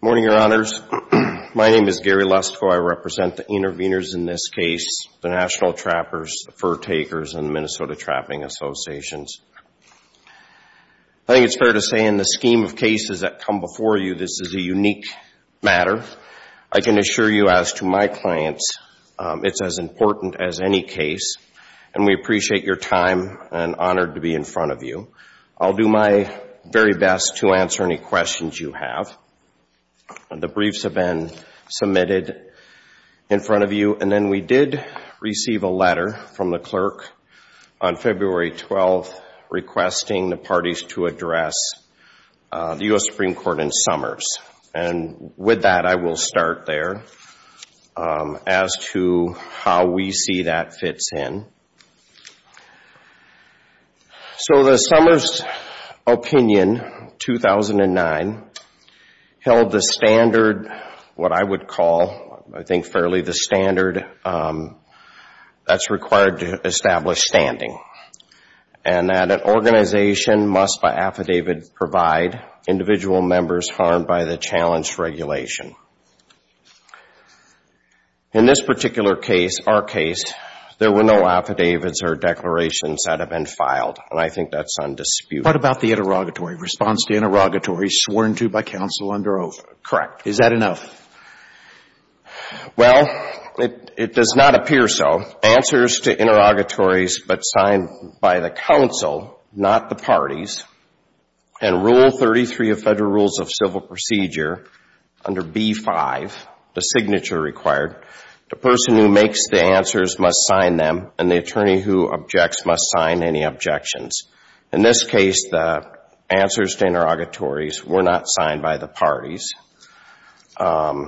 Morning, Your Honors. My name is Gary Lusko. I represent the interveners in this case, the National Trappers, the Fur Takers, and the Minnesota Trapping Associations. I think it's fair to say in the scheme of cases that come before you, this is a unique matter. I can assure you, as to my clients, it's as important as any case, and we appreciate your time and honored to be in front of you. I'll do my very best to answer any questions you have. The briefs have been submitted in front of you. And then we did receive a letter from the clerk on February 12th requesting the parties to address the U.S. Supreme Court in Summers. And with that, I will start there as to how we see that fits in. So the Summers opinion, 2009, held the standard, what I would call, I think fairly the standard that's required to establish standing. And that an organization must by affidavit provide individual members harmed by the challenge regulation. In this particular case, our case, there were no affidavits or declarations that have been filed, and I think that's undisputed. What about the interrogatory response, the interrogatory sworn to by counsel under oath? Correct. Is that enough? Well, it does not appear so. Answers to interrogatories but signed by the counsel, not the parties, and Rule 33 of Federal Rules of Civil Procedure under B-5, the signature required, the person who makes the answers must sign them and the attorney who objects must sign any objections. In this case, the answers to interrogatories were not signed by the parties. And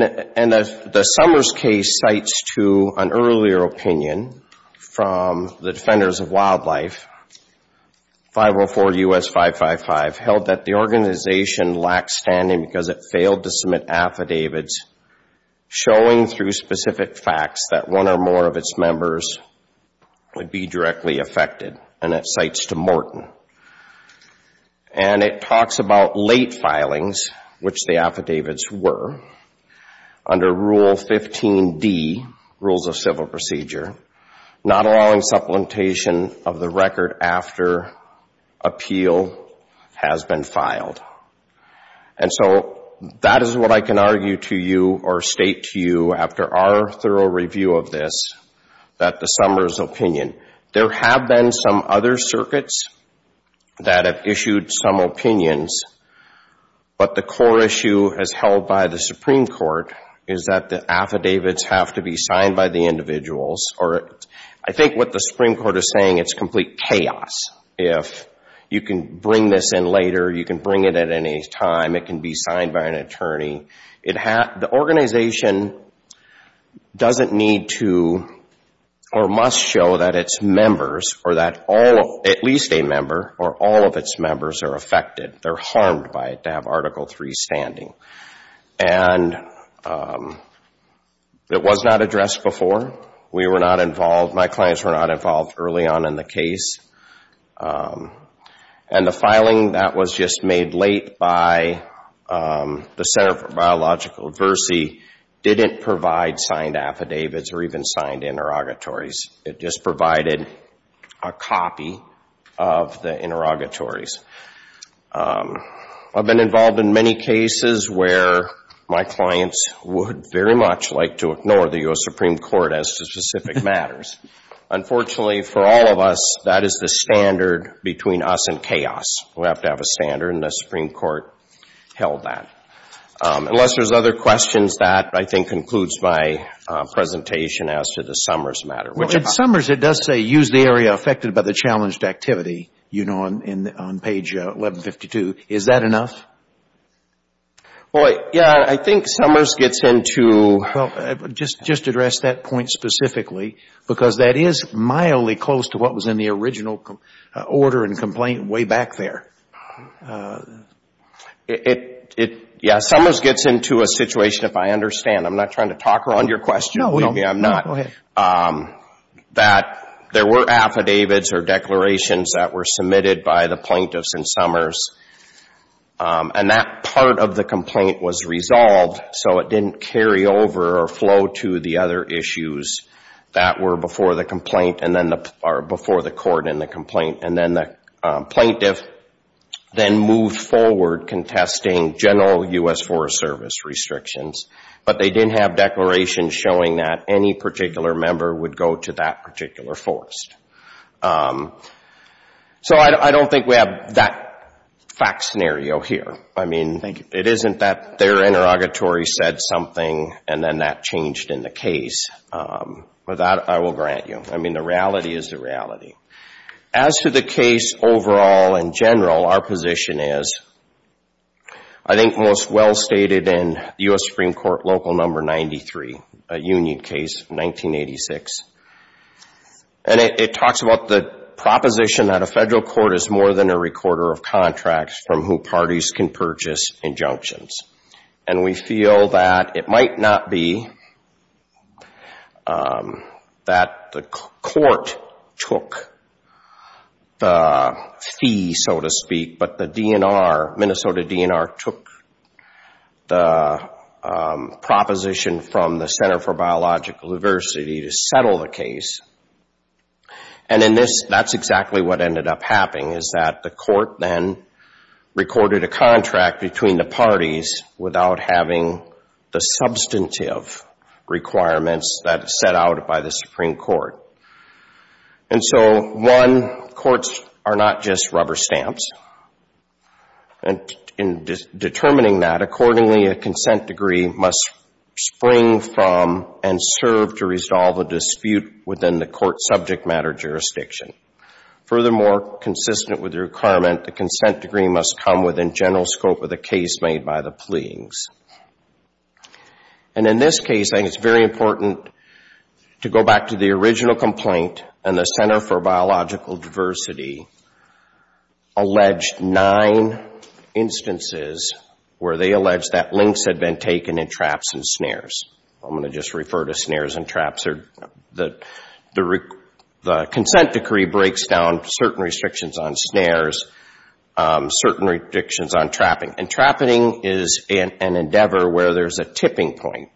the Summers case cites to an earlier opinion from the Defenders of Wildlife, 504 U.S. 555, held that the organization lacked standing because it failed to submit affidavits showing through specific facts that one or more of its members would be directly affected. And it cites to Morton. And it talks about late filings, which the affidavits were, under Rule 15d, Rules of Civil Procedure, not allowing supplementation of the record after appeal has been filed. And so that is what I can argue to you or state to you after our thorough review of this, that the Summers opinion. There have been some other circuits that have issued some opinions, but the core issue as held by the Supreme Court is that the affidavits have to be signed by the individuals. Or I think what the Supreme Court is saying, it's complete chaos. If you can bring this in later, you can bring it at any time, it can be signed by an attorney. The organization doesn't need to or must show that its members or that at least a member or all of its members are affected. They're harmed by it to have Article III standing. And it was not addressed before. We were not involved, my clients were not involved early on in the case. And the filing that was just made late by the Center for Biological Adversity didn't provide signed affidavits or even signed interrogatories. It just provided a copy of the interrogatories. I've been involved in many cases where my clients would very much like to ignore the U.S. Supreme Court as to specific matters. Unfortunately, for all of us, that is the standard between us and chaos. We have to have a standard, and the Supreme Court held that. Unless there's other questions, that, I think, concludes my presentation as to the Summers matter. In Summers, it does say, use the area affected by the challenged activity, you know, on page 1152. Is that enough? Yeah, I think Summers gets into... Just address that point specifically, because that is mildly close to what was in the original order and complaint way back there. Yeah, Summers gets into a situation, if I understand. I'm not trying to talk around your question. No, go ahead. There were affidavits or declarations that were submitted by the plaintiffs in Summers, and that part of the complaint was resolved so it didn't carry over or flow to the other issues that were before the complaint or before the court in the complaint. And then the plaintiff then moved forward contesting general U.S. Forest Service restrictions, but they didn't have declarations showing that any particular member would go to that particular forest. So I don't think we have that fact scenario here. I mean, it isn't that their interrogatory said something and then that changed in the case. With that, I will grant you. I mean, the reality is the reality. As to the case overall in general, our position is I think most well stated in U.S. Supreme Court Local Number 93, a union case, 1986. And it talks about the proposition that a federal court is more than a recorder of contracts from whom parties can purchase injunctions. And we feel that it might not be that the court took the fee, so to speak, but the Minnesota DNR took the proposition from the Center for Biological Diversity to settle the case. And in this, that's exactly what ended up happening, is that the court then recorded a contract between the parties without having the substantive requirements that are set out by the Supreme Court. And so, one, courts are not just rubber stamps. And in determining that, accordingly, a consent degree must spring from and serve to resolve a dispute within the court subject matter jurisdiction. Furthermore, consistent with the requirement, the consent degree must come within general scope of the case made by the pleadings. And in this case, I think it's very important to go back to the original complaint, and the Center for Biological Diversity alleged nine instances where they alleged that links had been taken in traps and snares. I'm going to just refer to snares and traps. The consent decree breaks down certain restrictions on snares, certain restrictions on trapping. And trapping is an endeavor where there's a tipping point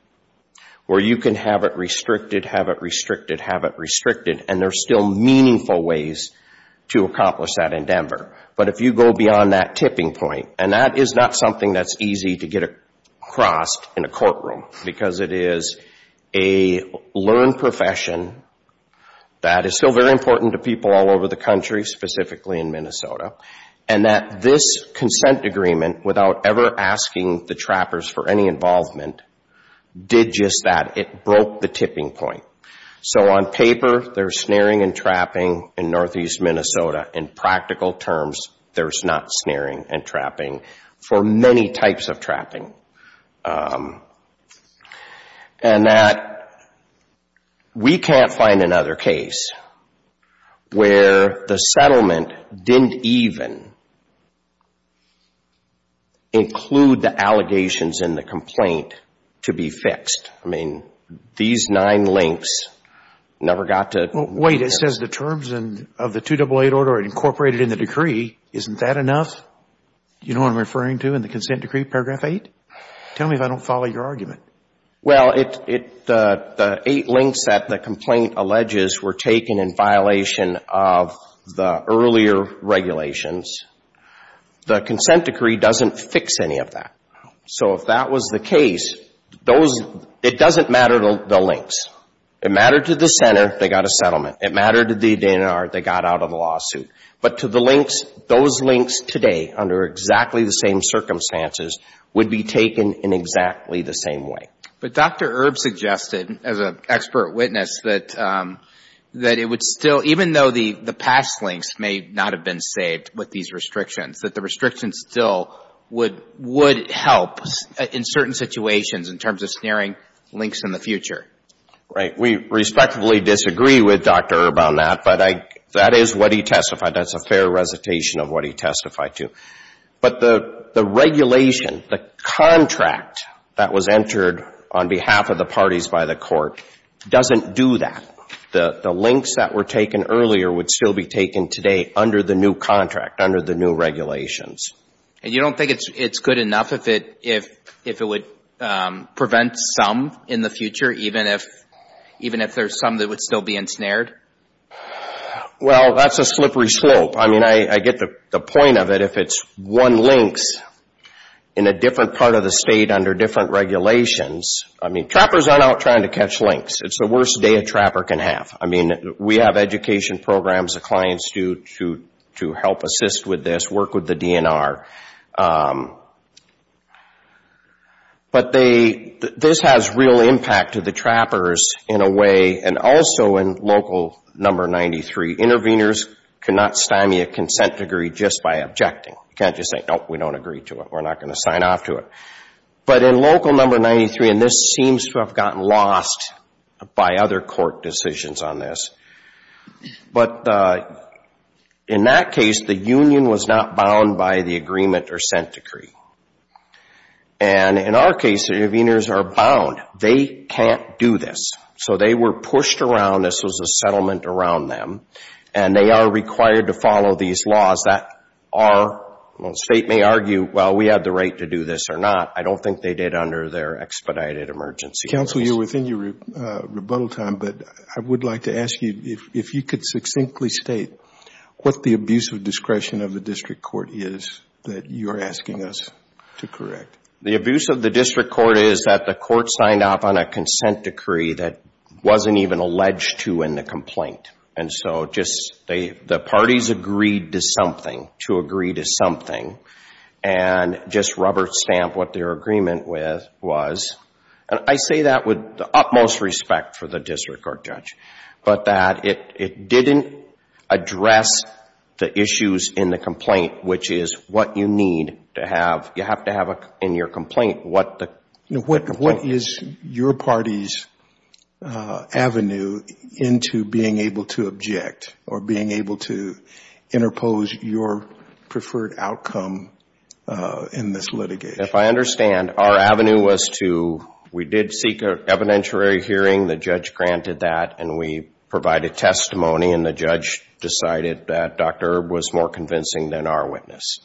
where you can have it restricted, have it restricted, have it restricted, and there's still meaningful ways to accomplish that endeavor. But if you go beyond that tipping point, and that is not something that's easy to get across in a courtroom because it is a learned profession that is still very important to people all over the country, specifically in Minnesota, and that this consent agreement, without ever asking the trappers for any involvement, did just that. It broke the tipping point. So on paper, there's snaring and trapping in northeast Minnesota. In practical terms, there's not snaring and trapping for many types of trapping. And that we can't find another case where the settlement didn't even include the allegations in the complaint to be fixed. I mean, these nine links never got to be fixed. Well, wait. It says the terms of the 208 order are incorporated in the decree. Isn't that enough? You know what I'm referring to in the consent decree, paragraph 8? Tell me if I don't follow your argument. Well, the eight links that the complaint alleges were taken in violation of the earlier regulations. The consent decree doesn't fix any of that. So if that was the case, it doesn't matter to the links. It mattered to the center, they got a settlement. But to the links, those links today, under exactly the same circumstances, would be taken in exactly the same way. But Dr. Erb suggested, as an expert witness, that it would still, even though the past links may not have been saved with these restrictions, that the restrictions still would help in certain situations in terms of snaring links in the future. Right. We respectfully disagree with Dr. Erb on that, but that is what he testified. That's a fair recitation of what he testified to. But the regulation, the contract that was entered on behalf of the parties by the court doesn't do that. The links that were taken earlier would still be taken today under the new contract, under the new regulations. And you don't think it's good enough if it would prevent some in the future, even if there's some that would still be ensnared? Well, that's a slippery slope. I mean, I get the point of it. If it's one links in a different part of the state under different regulations, I mean, trappers aren't out trying to catch links. It's the worst day a trapper can have. I mean, we have education programs that clients do to help assist with this, work with the DNR. But this has real impact to the trappers in a way, and also in Local No. 93. Interveners cannot stymie a consent degree just by objecting. You can't just say, nope, we don't agree to it, we're not going to sign off to it. But in Local No. 93, and this seems to have gotten lost by other court decisions on this, but in that case, the union was not bound by the agreement or consent decree. And in our case, interveners are bound. They can't do this. So they were pushed around. This was a settlement around them. And they are required to follow these laws. The state may argue, well, we have the right to do this or not. I don't think they did under their expedited emergency laws. Counsel, you're within your rebuttal time, but I would like to ask you if you could succinctly state what the abuse of discretion of the district court is that you're asking us to correct. The abuse of the district court is that the court signed off on a consent decree that wasn't even alleged to in the complaint. And so just the parties agreed to something, to agree to something, and just rubber stamp what their agreement was. And I say that with the utmost respect for the district court judge, but that it didn't address the issues in the complaint, which is what you need to have. You have to have in your complaint what the complaint is. What was your party's avenue into being able to object or being able to interpose your preferred outcome in this litigation? If I understand, our avenue was to we did seek an evidentiary hearing. The judge granted that, and we provided testimony, and the judge decided that Dr. Erb was more convincing than our witness.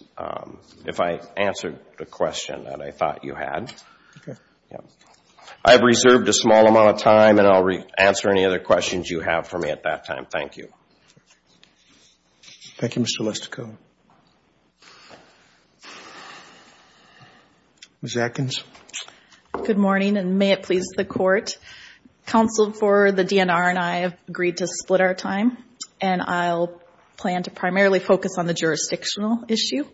If I answered the question that I thought you had. Okay. I have reserved a small amount of time, and I'll answer any other questions you have for me at that time. Thank you. Thank you, Mr. Lustico. Ms. Atkins. Good morning, and may it please the Court. Counsel for the DNR and I have agreed to split our time, and I'll plan to primarily focus on the jurisdictional issue.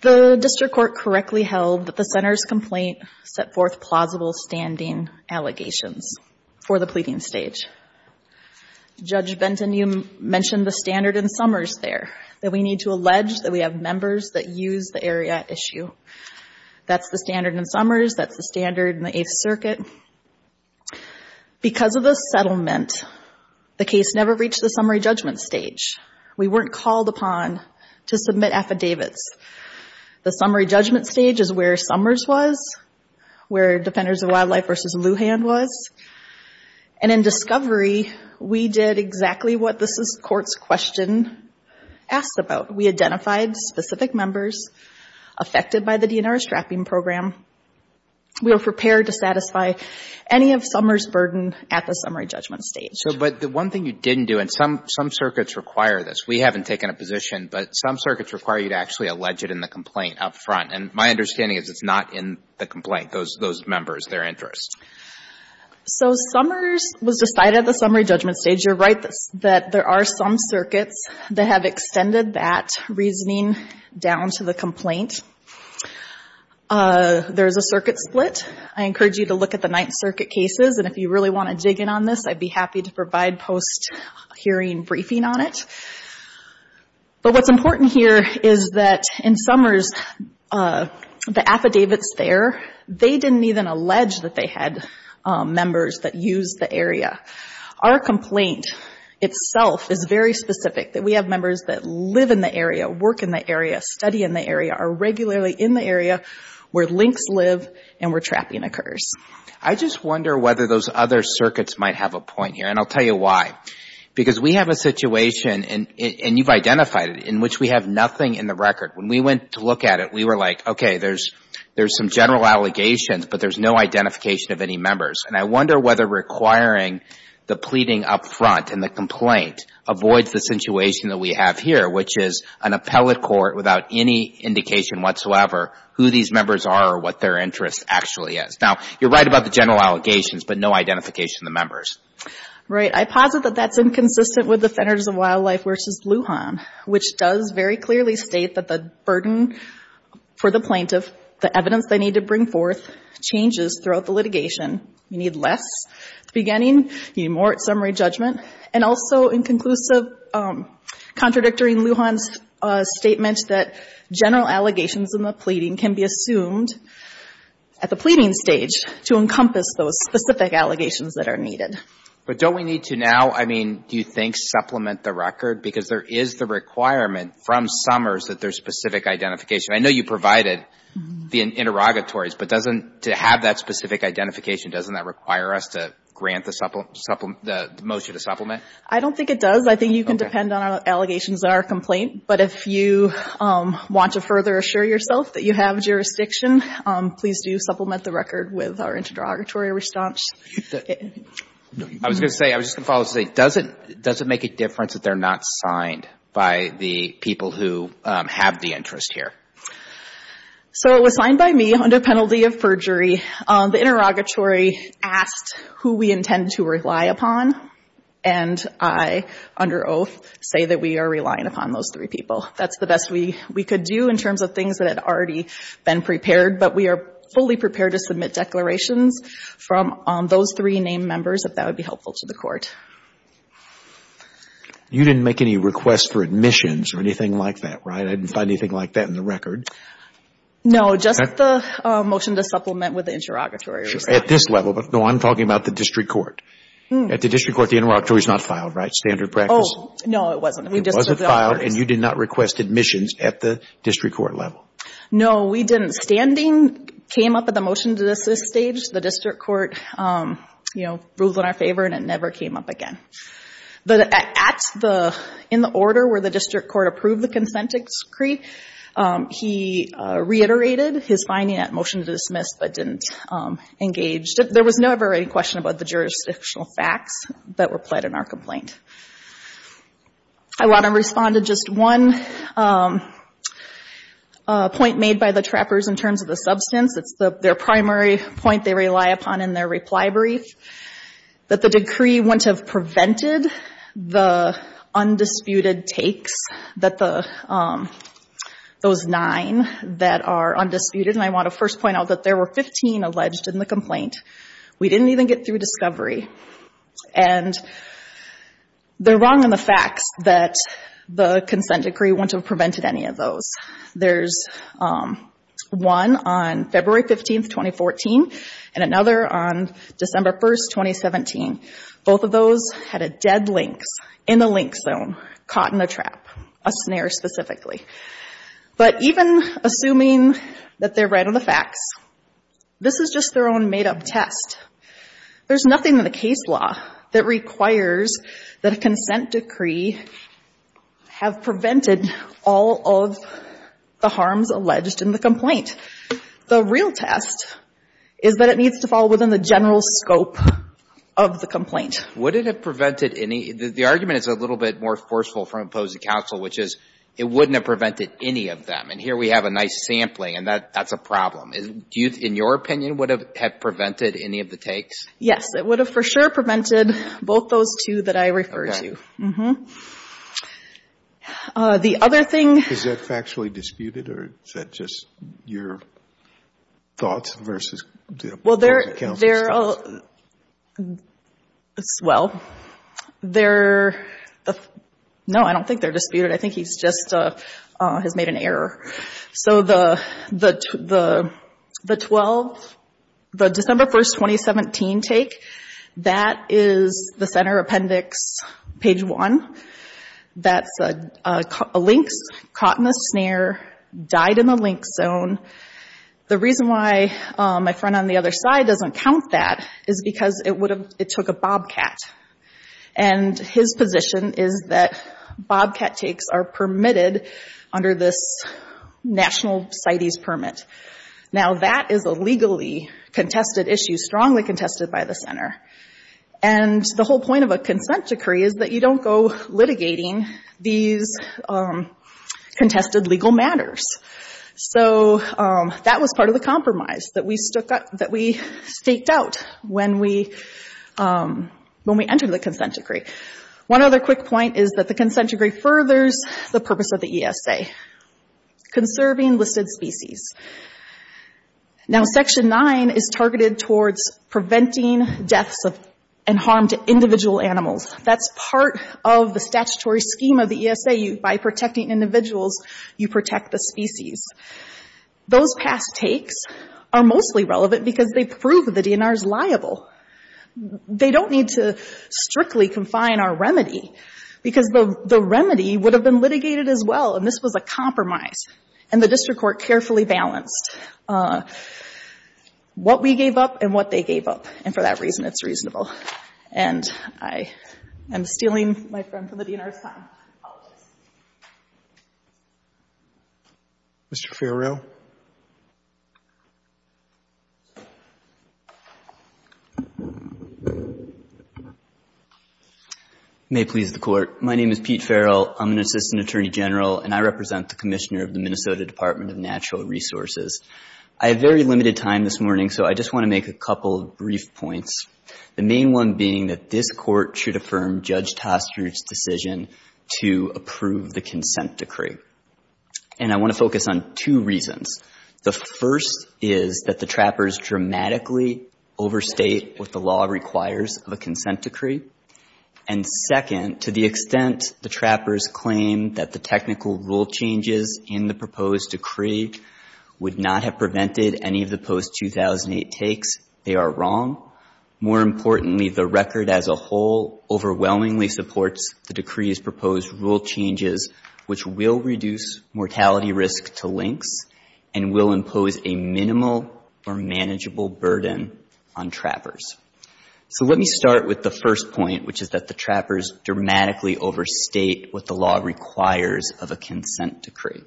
The district court correctly held that the center's complaint set forth plausible standing allegations for the pleading stage. Judge Benton, you mentioned the standard in Summers there, that we need to allege that we have members that use the area at issue. That's the standard in Summers. That's the standard in the Eighth Circuit. Because of the settlement, the case never reached the summary judgment stage. We weren't called upon to submit affidavits. The summary judgment stage is where Summers was, where Defenders of Wildlife v. Lujan was. And in discovery, we did exactly what this Court's question asked about. We identified specific members affected by the DNR's trapping program. We were prepared to satisfy any of Summers' burden at the summary judgment stage. But the one thing you didn't do, and some circuits require this. We haven't taken a position, but some circuits require you to actually allege it in the complaint up front. And my understanding is it's not in the complaint, those members, their interest. So Summers was decided at the summary judgment stage. You're right that there are some circuits that have extended that reasoning down to the complaint. There's a circuit split. I encourage you to look at the Ninth Circuit cases, and if you really want to dig in on this, I'd be happy to provide post-hearing briefing on it. But what's important here is that in Summers, the affidavits there, they didn't even allege that they had members that used the area. Our complaint itself is very specific, that we have members that live in the area, work in the area, study in the area, are regularly in the area where lynx live and where trapping occurs. I just wonder whether those other circuits might have a point here. And I'll tell you why. Because we have a situation, and you've identified it, in which we have nothing in the record. When we went to look at it, we were like, okay, there's some general allegations, but there's no identification of any members. And I wonder whether requiring the pleading up front in the complaint avoids the situation that we have here, which is an appellate court without any indication whatsoever who these members are or what their interest actually is. Now, you're right about the general allegations, but no identification of the members. Right. I posit that that's inconsistent with Defenders of Wildlife v. Lujan, which does very clearly state that the burden for the plaintiff, the evidence they need to bring forth, changes throughout the litigation. You need less at the beginning. You need more at summary judgment. And also, in conclusive, contradicting Lujan's statement that general allegations in the pleading can be assumed at the pleading stage to encompass those specific allegations that are needed. But don't we need to now, I mean, do you think, supplement the record? Because there is the requirement from Summers that there's specific identification. I know you provided the interrogatories, but doesn't to have that specific identification, doesn't that require us to grant the motion to supplement? I don't think it does. I think you can depend on allegations in our complaint. But if you want to further assure yourself that you have jurisdiction, please do supplement the record with our interrogatory response. I was going to say, I was just going to follow up and say, does it make a difference that they're not signed by the people who have the interest here? So it was signed by me under penalty of perjury. The interrogatory asked who we intend to rely upon, and I, under oath, say that we are relying upon those three people. That's the best we could do in terms of things that had already been prepared. But we are fully prepared to submit declarations from those three named members if that would be helpful to the court. You didn't make any requests for admissions or anything like that, right? I didn't find anything like that in the record. No, just the motion to supplement with the interrogatory response. At this level, but no, I'm talking about the district court. At the district court, the interrogatory is not filed, right? Standard practice? No, it wasn't. It wasn't filed, and you did not request admissions at the district court level? No, we didn't. Standing came up at the motion to dismiss stage. The district court, you know, ruled in our favor, and it never came up again. But in the order where the district court approved the consent decree, he reiterated his finding at motion to dismiss, but didn't engage. There was never any question about the jurisdictional facts that were pled in our complaint. I want to respond to just one point made by the trappers in terms of the substance. It's their primary point they rely upon in their reply brief, that the decree wouldn't have prevented the undisputed takes that those nine that are undisputed, and I want to first point out that there were 15 alleged in the complaint. We didn't even get through discovery. And they're wrong in the facts that the consent decree wouldn't have prevented any of those. There's one on February 15, 2014, and another on December 1, 2017. Both of those had a dead lynx in the lynx zone, caught in a trap, a snare specifically. But even assuming that they're right on the facts, this is just their own made-up test. There's nothing in the case law that requires that a consent decree have prevented all of the harms alleged in the complaint. The real test is that it needs to fall within the general scope of the complaint. Would it have prevented any? The argument is a little bit more forceful from opposing counsel, which is it wouldn't have prevented any of them. And here we have a nice sampling, and that's a problem. In your opinion, would it have prevented any of the takes? Yes. It would have for sure prevented both those two that I refer to. Okay. Uh-huh. The other thing — Is that factually disputed, or is that just your thoughts versus counsel's thoughts? Well, they're — well, they're — no, I don't think they're disputed. I think he's just — has made an error. So the 12 — the December 1, 2017 take, that is the center appendix, page 1. That's a lynx caught in a snare, died in the lynx zone. The reason why my friend on the other side doesn't count that is because it would have — it took a bobcat. And his position is that bobcat takes are permitted under this national CITES permit. Now, that is a legally contested issue, strongly contested by the center. And the whole point of a consent decree is that you don't go litigating these contested legal matters. So that was part of the compromise that we staked out when we entered the consent decree. One other quick point is that the consent decree furthers the purpose of the ESA, conserving listed species. Now, Section 9 is targeted towards preventing deaths and harm to individual animals. That's part of the statutory scheme of the ESA. By protecting individuals, you protect the species. Those past takes are mostly relevant because they prove the DNR is liable. They don't need to strictly confine our remedy because the remedy would have been litigated as well. And this was a compromise. And the district court carefully balanced what we gave up and what they gave up. And for that reason, it's reasonable. And I am stealing my friend from the DNR's time. I apologize. Roberts. Mr. Ferrell. May it please the Court. My name is Pete Ferrell. I'm an assistant attorney general, and I represent the commissioner of the Minnesota Department of Natural Resources. I have very limited time this morning, so I just want to make a couple of brief points, the main one being that this Court should affirm Judge Toster's decision to approve the consent decree. And I want to focus on two reasons. The first is that the trappers dramatically overstate what the law requires of a consent decree. And second, to the extent the trappers claim that the technical rule changes in the proposed decree would not have prevented any of the post-2008 takes, they are wrong. More importantly, the record as a whole overwhelmingly supports the decree's proposed rule changes, which will reduce mortality risk to links and will impose a minimal or manageable burden on trappers. So let me start with the first point, which is that the trappers dramatically overstate what the law requires of a consent decree.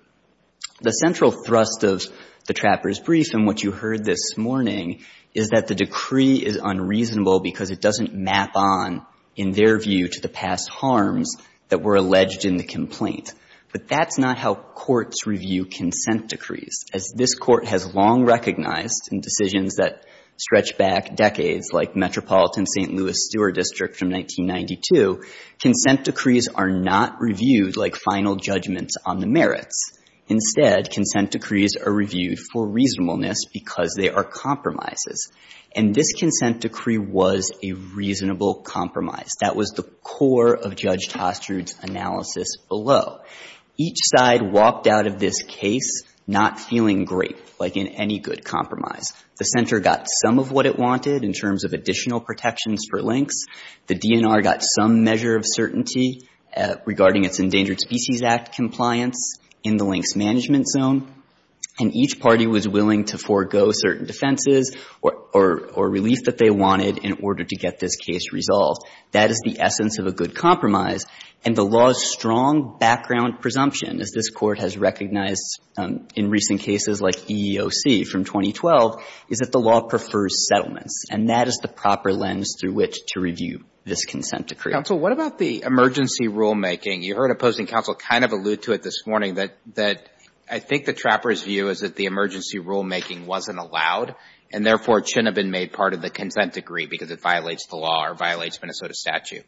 The central thrust of the trappers' brief and what you heard this morning is that the decree is unreasonable because it doesn't map on, in their view, to the past harms that were alleged in the complaint. But that's not how courts review consent decrees. As this Court has long recognized in decisions that stretch back decades, like Metropolitan St. Louis Steward District from 1992, consent decrees are not reviewed like final judgments on the merits. Instead, consent decrees are reviewed for reasonableness because they are compromises. And this consent decree was a reasonable compromise. That was the core of Judge Toster's analysis below. Each side walked out of this case not feeling great, like in any good compromise. The Center got some of what it wanted in terms of additional protections for links. The DNR got some measure of certainty regarding its Endangered Species Act compliance in the links management zone. And each party was willing to forego certain defenses or relief that they wanted in order to get this case resolved. That is the essence of a good compromise. And the law's strong background presumption, as this Court has recognized in recent cases like EEOC from 2012, is that the law prefers settlements. And that is the proper lens through which to review this consent decree. Roberts. Counsel, what about the emergency rulemaking? You heard opposing counsel kind of allude to it this morning, that I think the trapper's view is that the emergency rulemaking wasn't allowed, and therefore it shouldn't have been made part of the consent decree because it violates the law or violates Minnesota statute.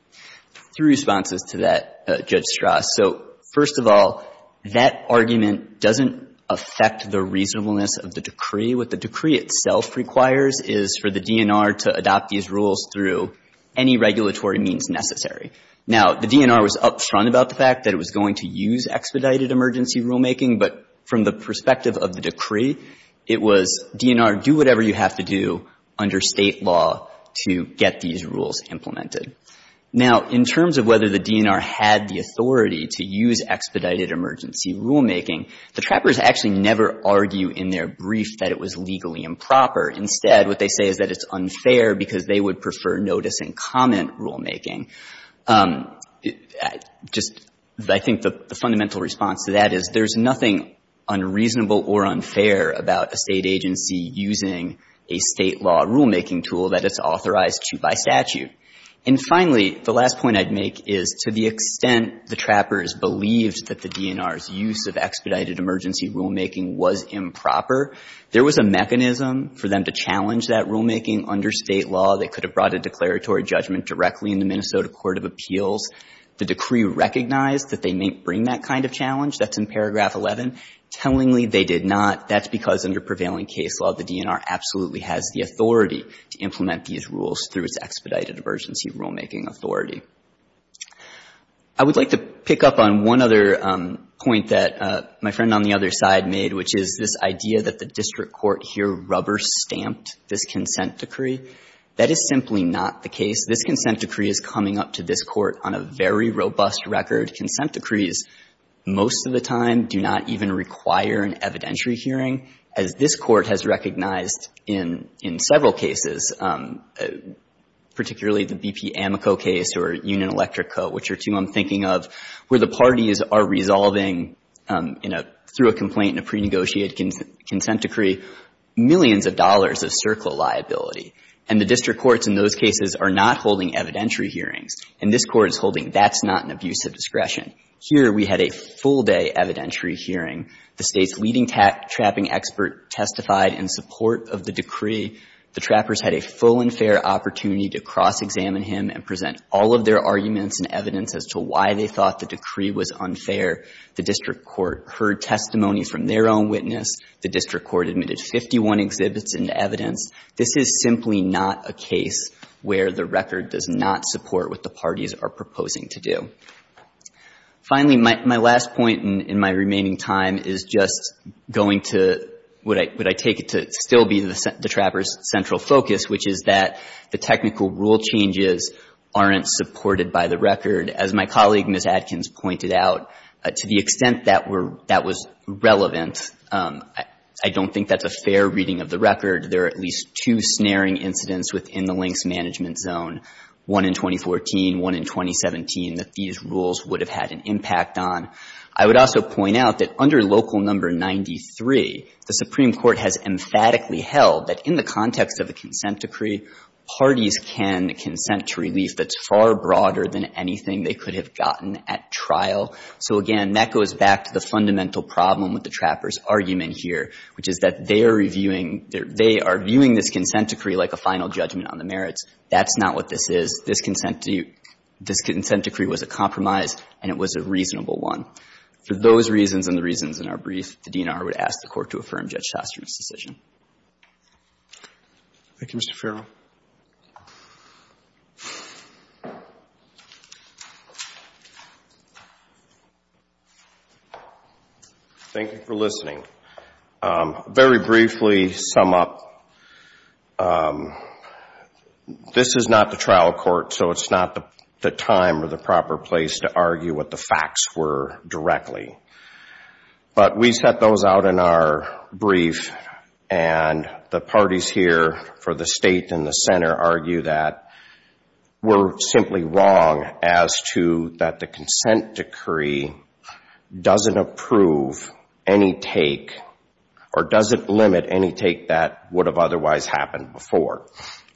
Three responses to that, Judge Strauss. So, first of all, that argument doesn't affect the reasonableness of the decree. What the decree itself requires is for the DNR to adopt these rules through any regulatory means necessary. Now, the DNR was up front about the fact that it was going to use expedited emergency rulemaking, but from the perspective of the decree, it was, DNR, do whatever you have to do under State law to get these rules implemented. Now, in terms of whether the DNR had the authority to use expedited emergency rulemaking, the trappers actually never argue in their brief that it was legally improper. Instead, what they say is that it's unfair because they would prefer notice-and-comment rulemaking. Just, I think the fundamental response to that is there's nothing unreasonable or unfair about a State agency using a State law rulemaking tool that it's authorized to by statute. And finally, the last point I'd make is to the extent the trappers believed that the DNR's use of expedited emergency rulemaking was improper, there was a mechanism for them to challenge that rulemaking under State law. They could have brought a declaratory judgment directly into Minnesota court of appeals. The decree recognized that they may bring that kind of challenge. That's in paragraph 11. Tellingly, they did not. That's because under prevailing case law, the DNR absolutely has the authority to implement these rules through its expedited emergency rulemaking authority. I would like to pick up on one other point that my friend on the other side made, which is this idea that the district court here rubber-stamped this consent decree. That is simply not the case. This consent decree is coming up to this Court on a very robust record. Consent decrees most of the time do not even require an evidentiary hearing, as this case is, particularly the B.P. Amico case or Union Electric Co., which are two I'm thinking of, where the parties are resolving, you know, through a complaint and a prenegotiated consent decree, millions of dollars of circle liability. And the district courts in those cases are not holding evidentiary hearings. And this Court is holding that's not an abuse of discretion. Here we had a full-day evidentiary hearing. The State's leading trapping expert testified in support of the decree. The trappers had a full and fair opportunity to cross-examine him and present all of their arguments and evidence as to why they thought the decree was unfair. The district court heard testimonies from their own witness. The district court admitted 51 exhibits and evidence. This is simply not a case where the record does not support what the parties are proposing to do. Finally, my last point in my remaining time is just going to what I take it to still be the trappers' central focus, which is that the technical rule changes aren't supported by the record. As my colleague, Ms. Adkins, pointed out, to the extent that that was relevant, I don't think that's a fair reading of the record. There are at least two snaring incidents within the links management zone, one in 2014, one in 2017, that these rules would have had an impact on. I would also point out that under Local No. 93, the Supreme Court has emphatically held that in the context of a consent decree, parties can consent to relief that's far broader than anything they could have gotten at trial. So, again, that goes back to the fundamental problem with the trappers' argument here, which is that they are reviewing their – they are viewing this consent decree like a final judgment on the merits. That's not what this is. This consent decree was a compromise, and it was a reasonable one. For those reasons and the reasons in our brief, the DNR would ask the Court to affirm Judge Sostrom's decision. Thank you, Mr. Farrell. Thank you for listening. Very briefly, to sum up, this is not the trial court, so it's not the time or the proper place to argue what the facts were directly. But we set those out in our brief, and the parties here for the State and the Center argue that we're simply wrong as to that the consent decree doesn't approve any take or doesn't limit any take that would have otherwise happened before.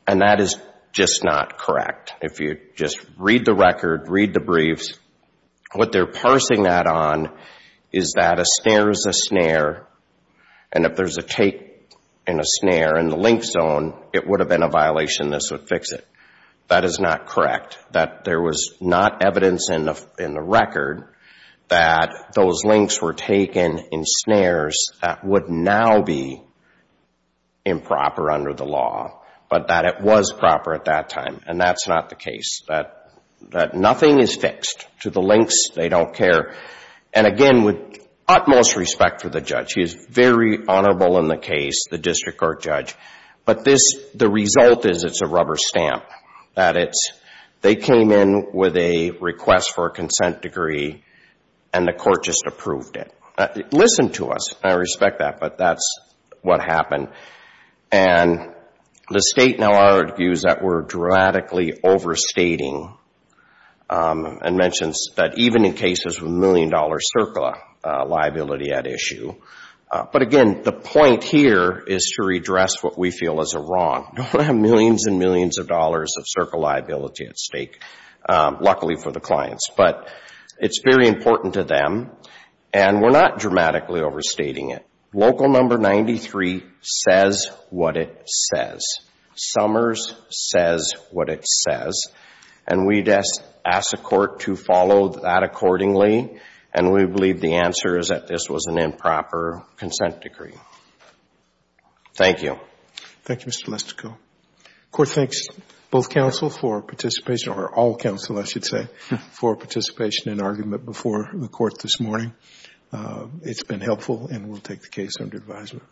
And that is just not correct. If you just read the record, read the briefs, what they're parsing that on is that a snare is a snare, and if there's a take and a snare in the link zone, it would have been a violation. This would fix it. That is not correct, that there was not evidence in the record that those links were taken in snares that would now be improper under the law, but that it was proper at that time. And that's not the case, that nothing is fixed. To the links, they don't care. And again, with utmost respect for the judge, he is very honorable in the case, the district court judge. But the result is it's a rubber stamp, that they came in with a request for a take and approved it. Listen to us. I respect that, but that's what happened. And the state now argues that we're dramatically overstating and mentions that even in cases with million-dollar CERCLA liability at issue. But again, the point here is to redress what we feel is a wrong. We have millions and millions of dollars of CERCLA liability at stake, luckily for the clients. But it's very important to them. And we're not dramatically overstating it. Local number 93 says what it says. Summers says what it says. And we'd ask the court to follow that accordingly. And we believe the answer is that this was an improper consent decree. Thank you. Thank you, Mr. Lustico. Court thanks both counsel for participation, or all counsel, I should say, for participation in argument before the court this morning. It's been helpful, and we'll take the case under advisement.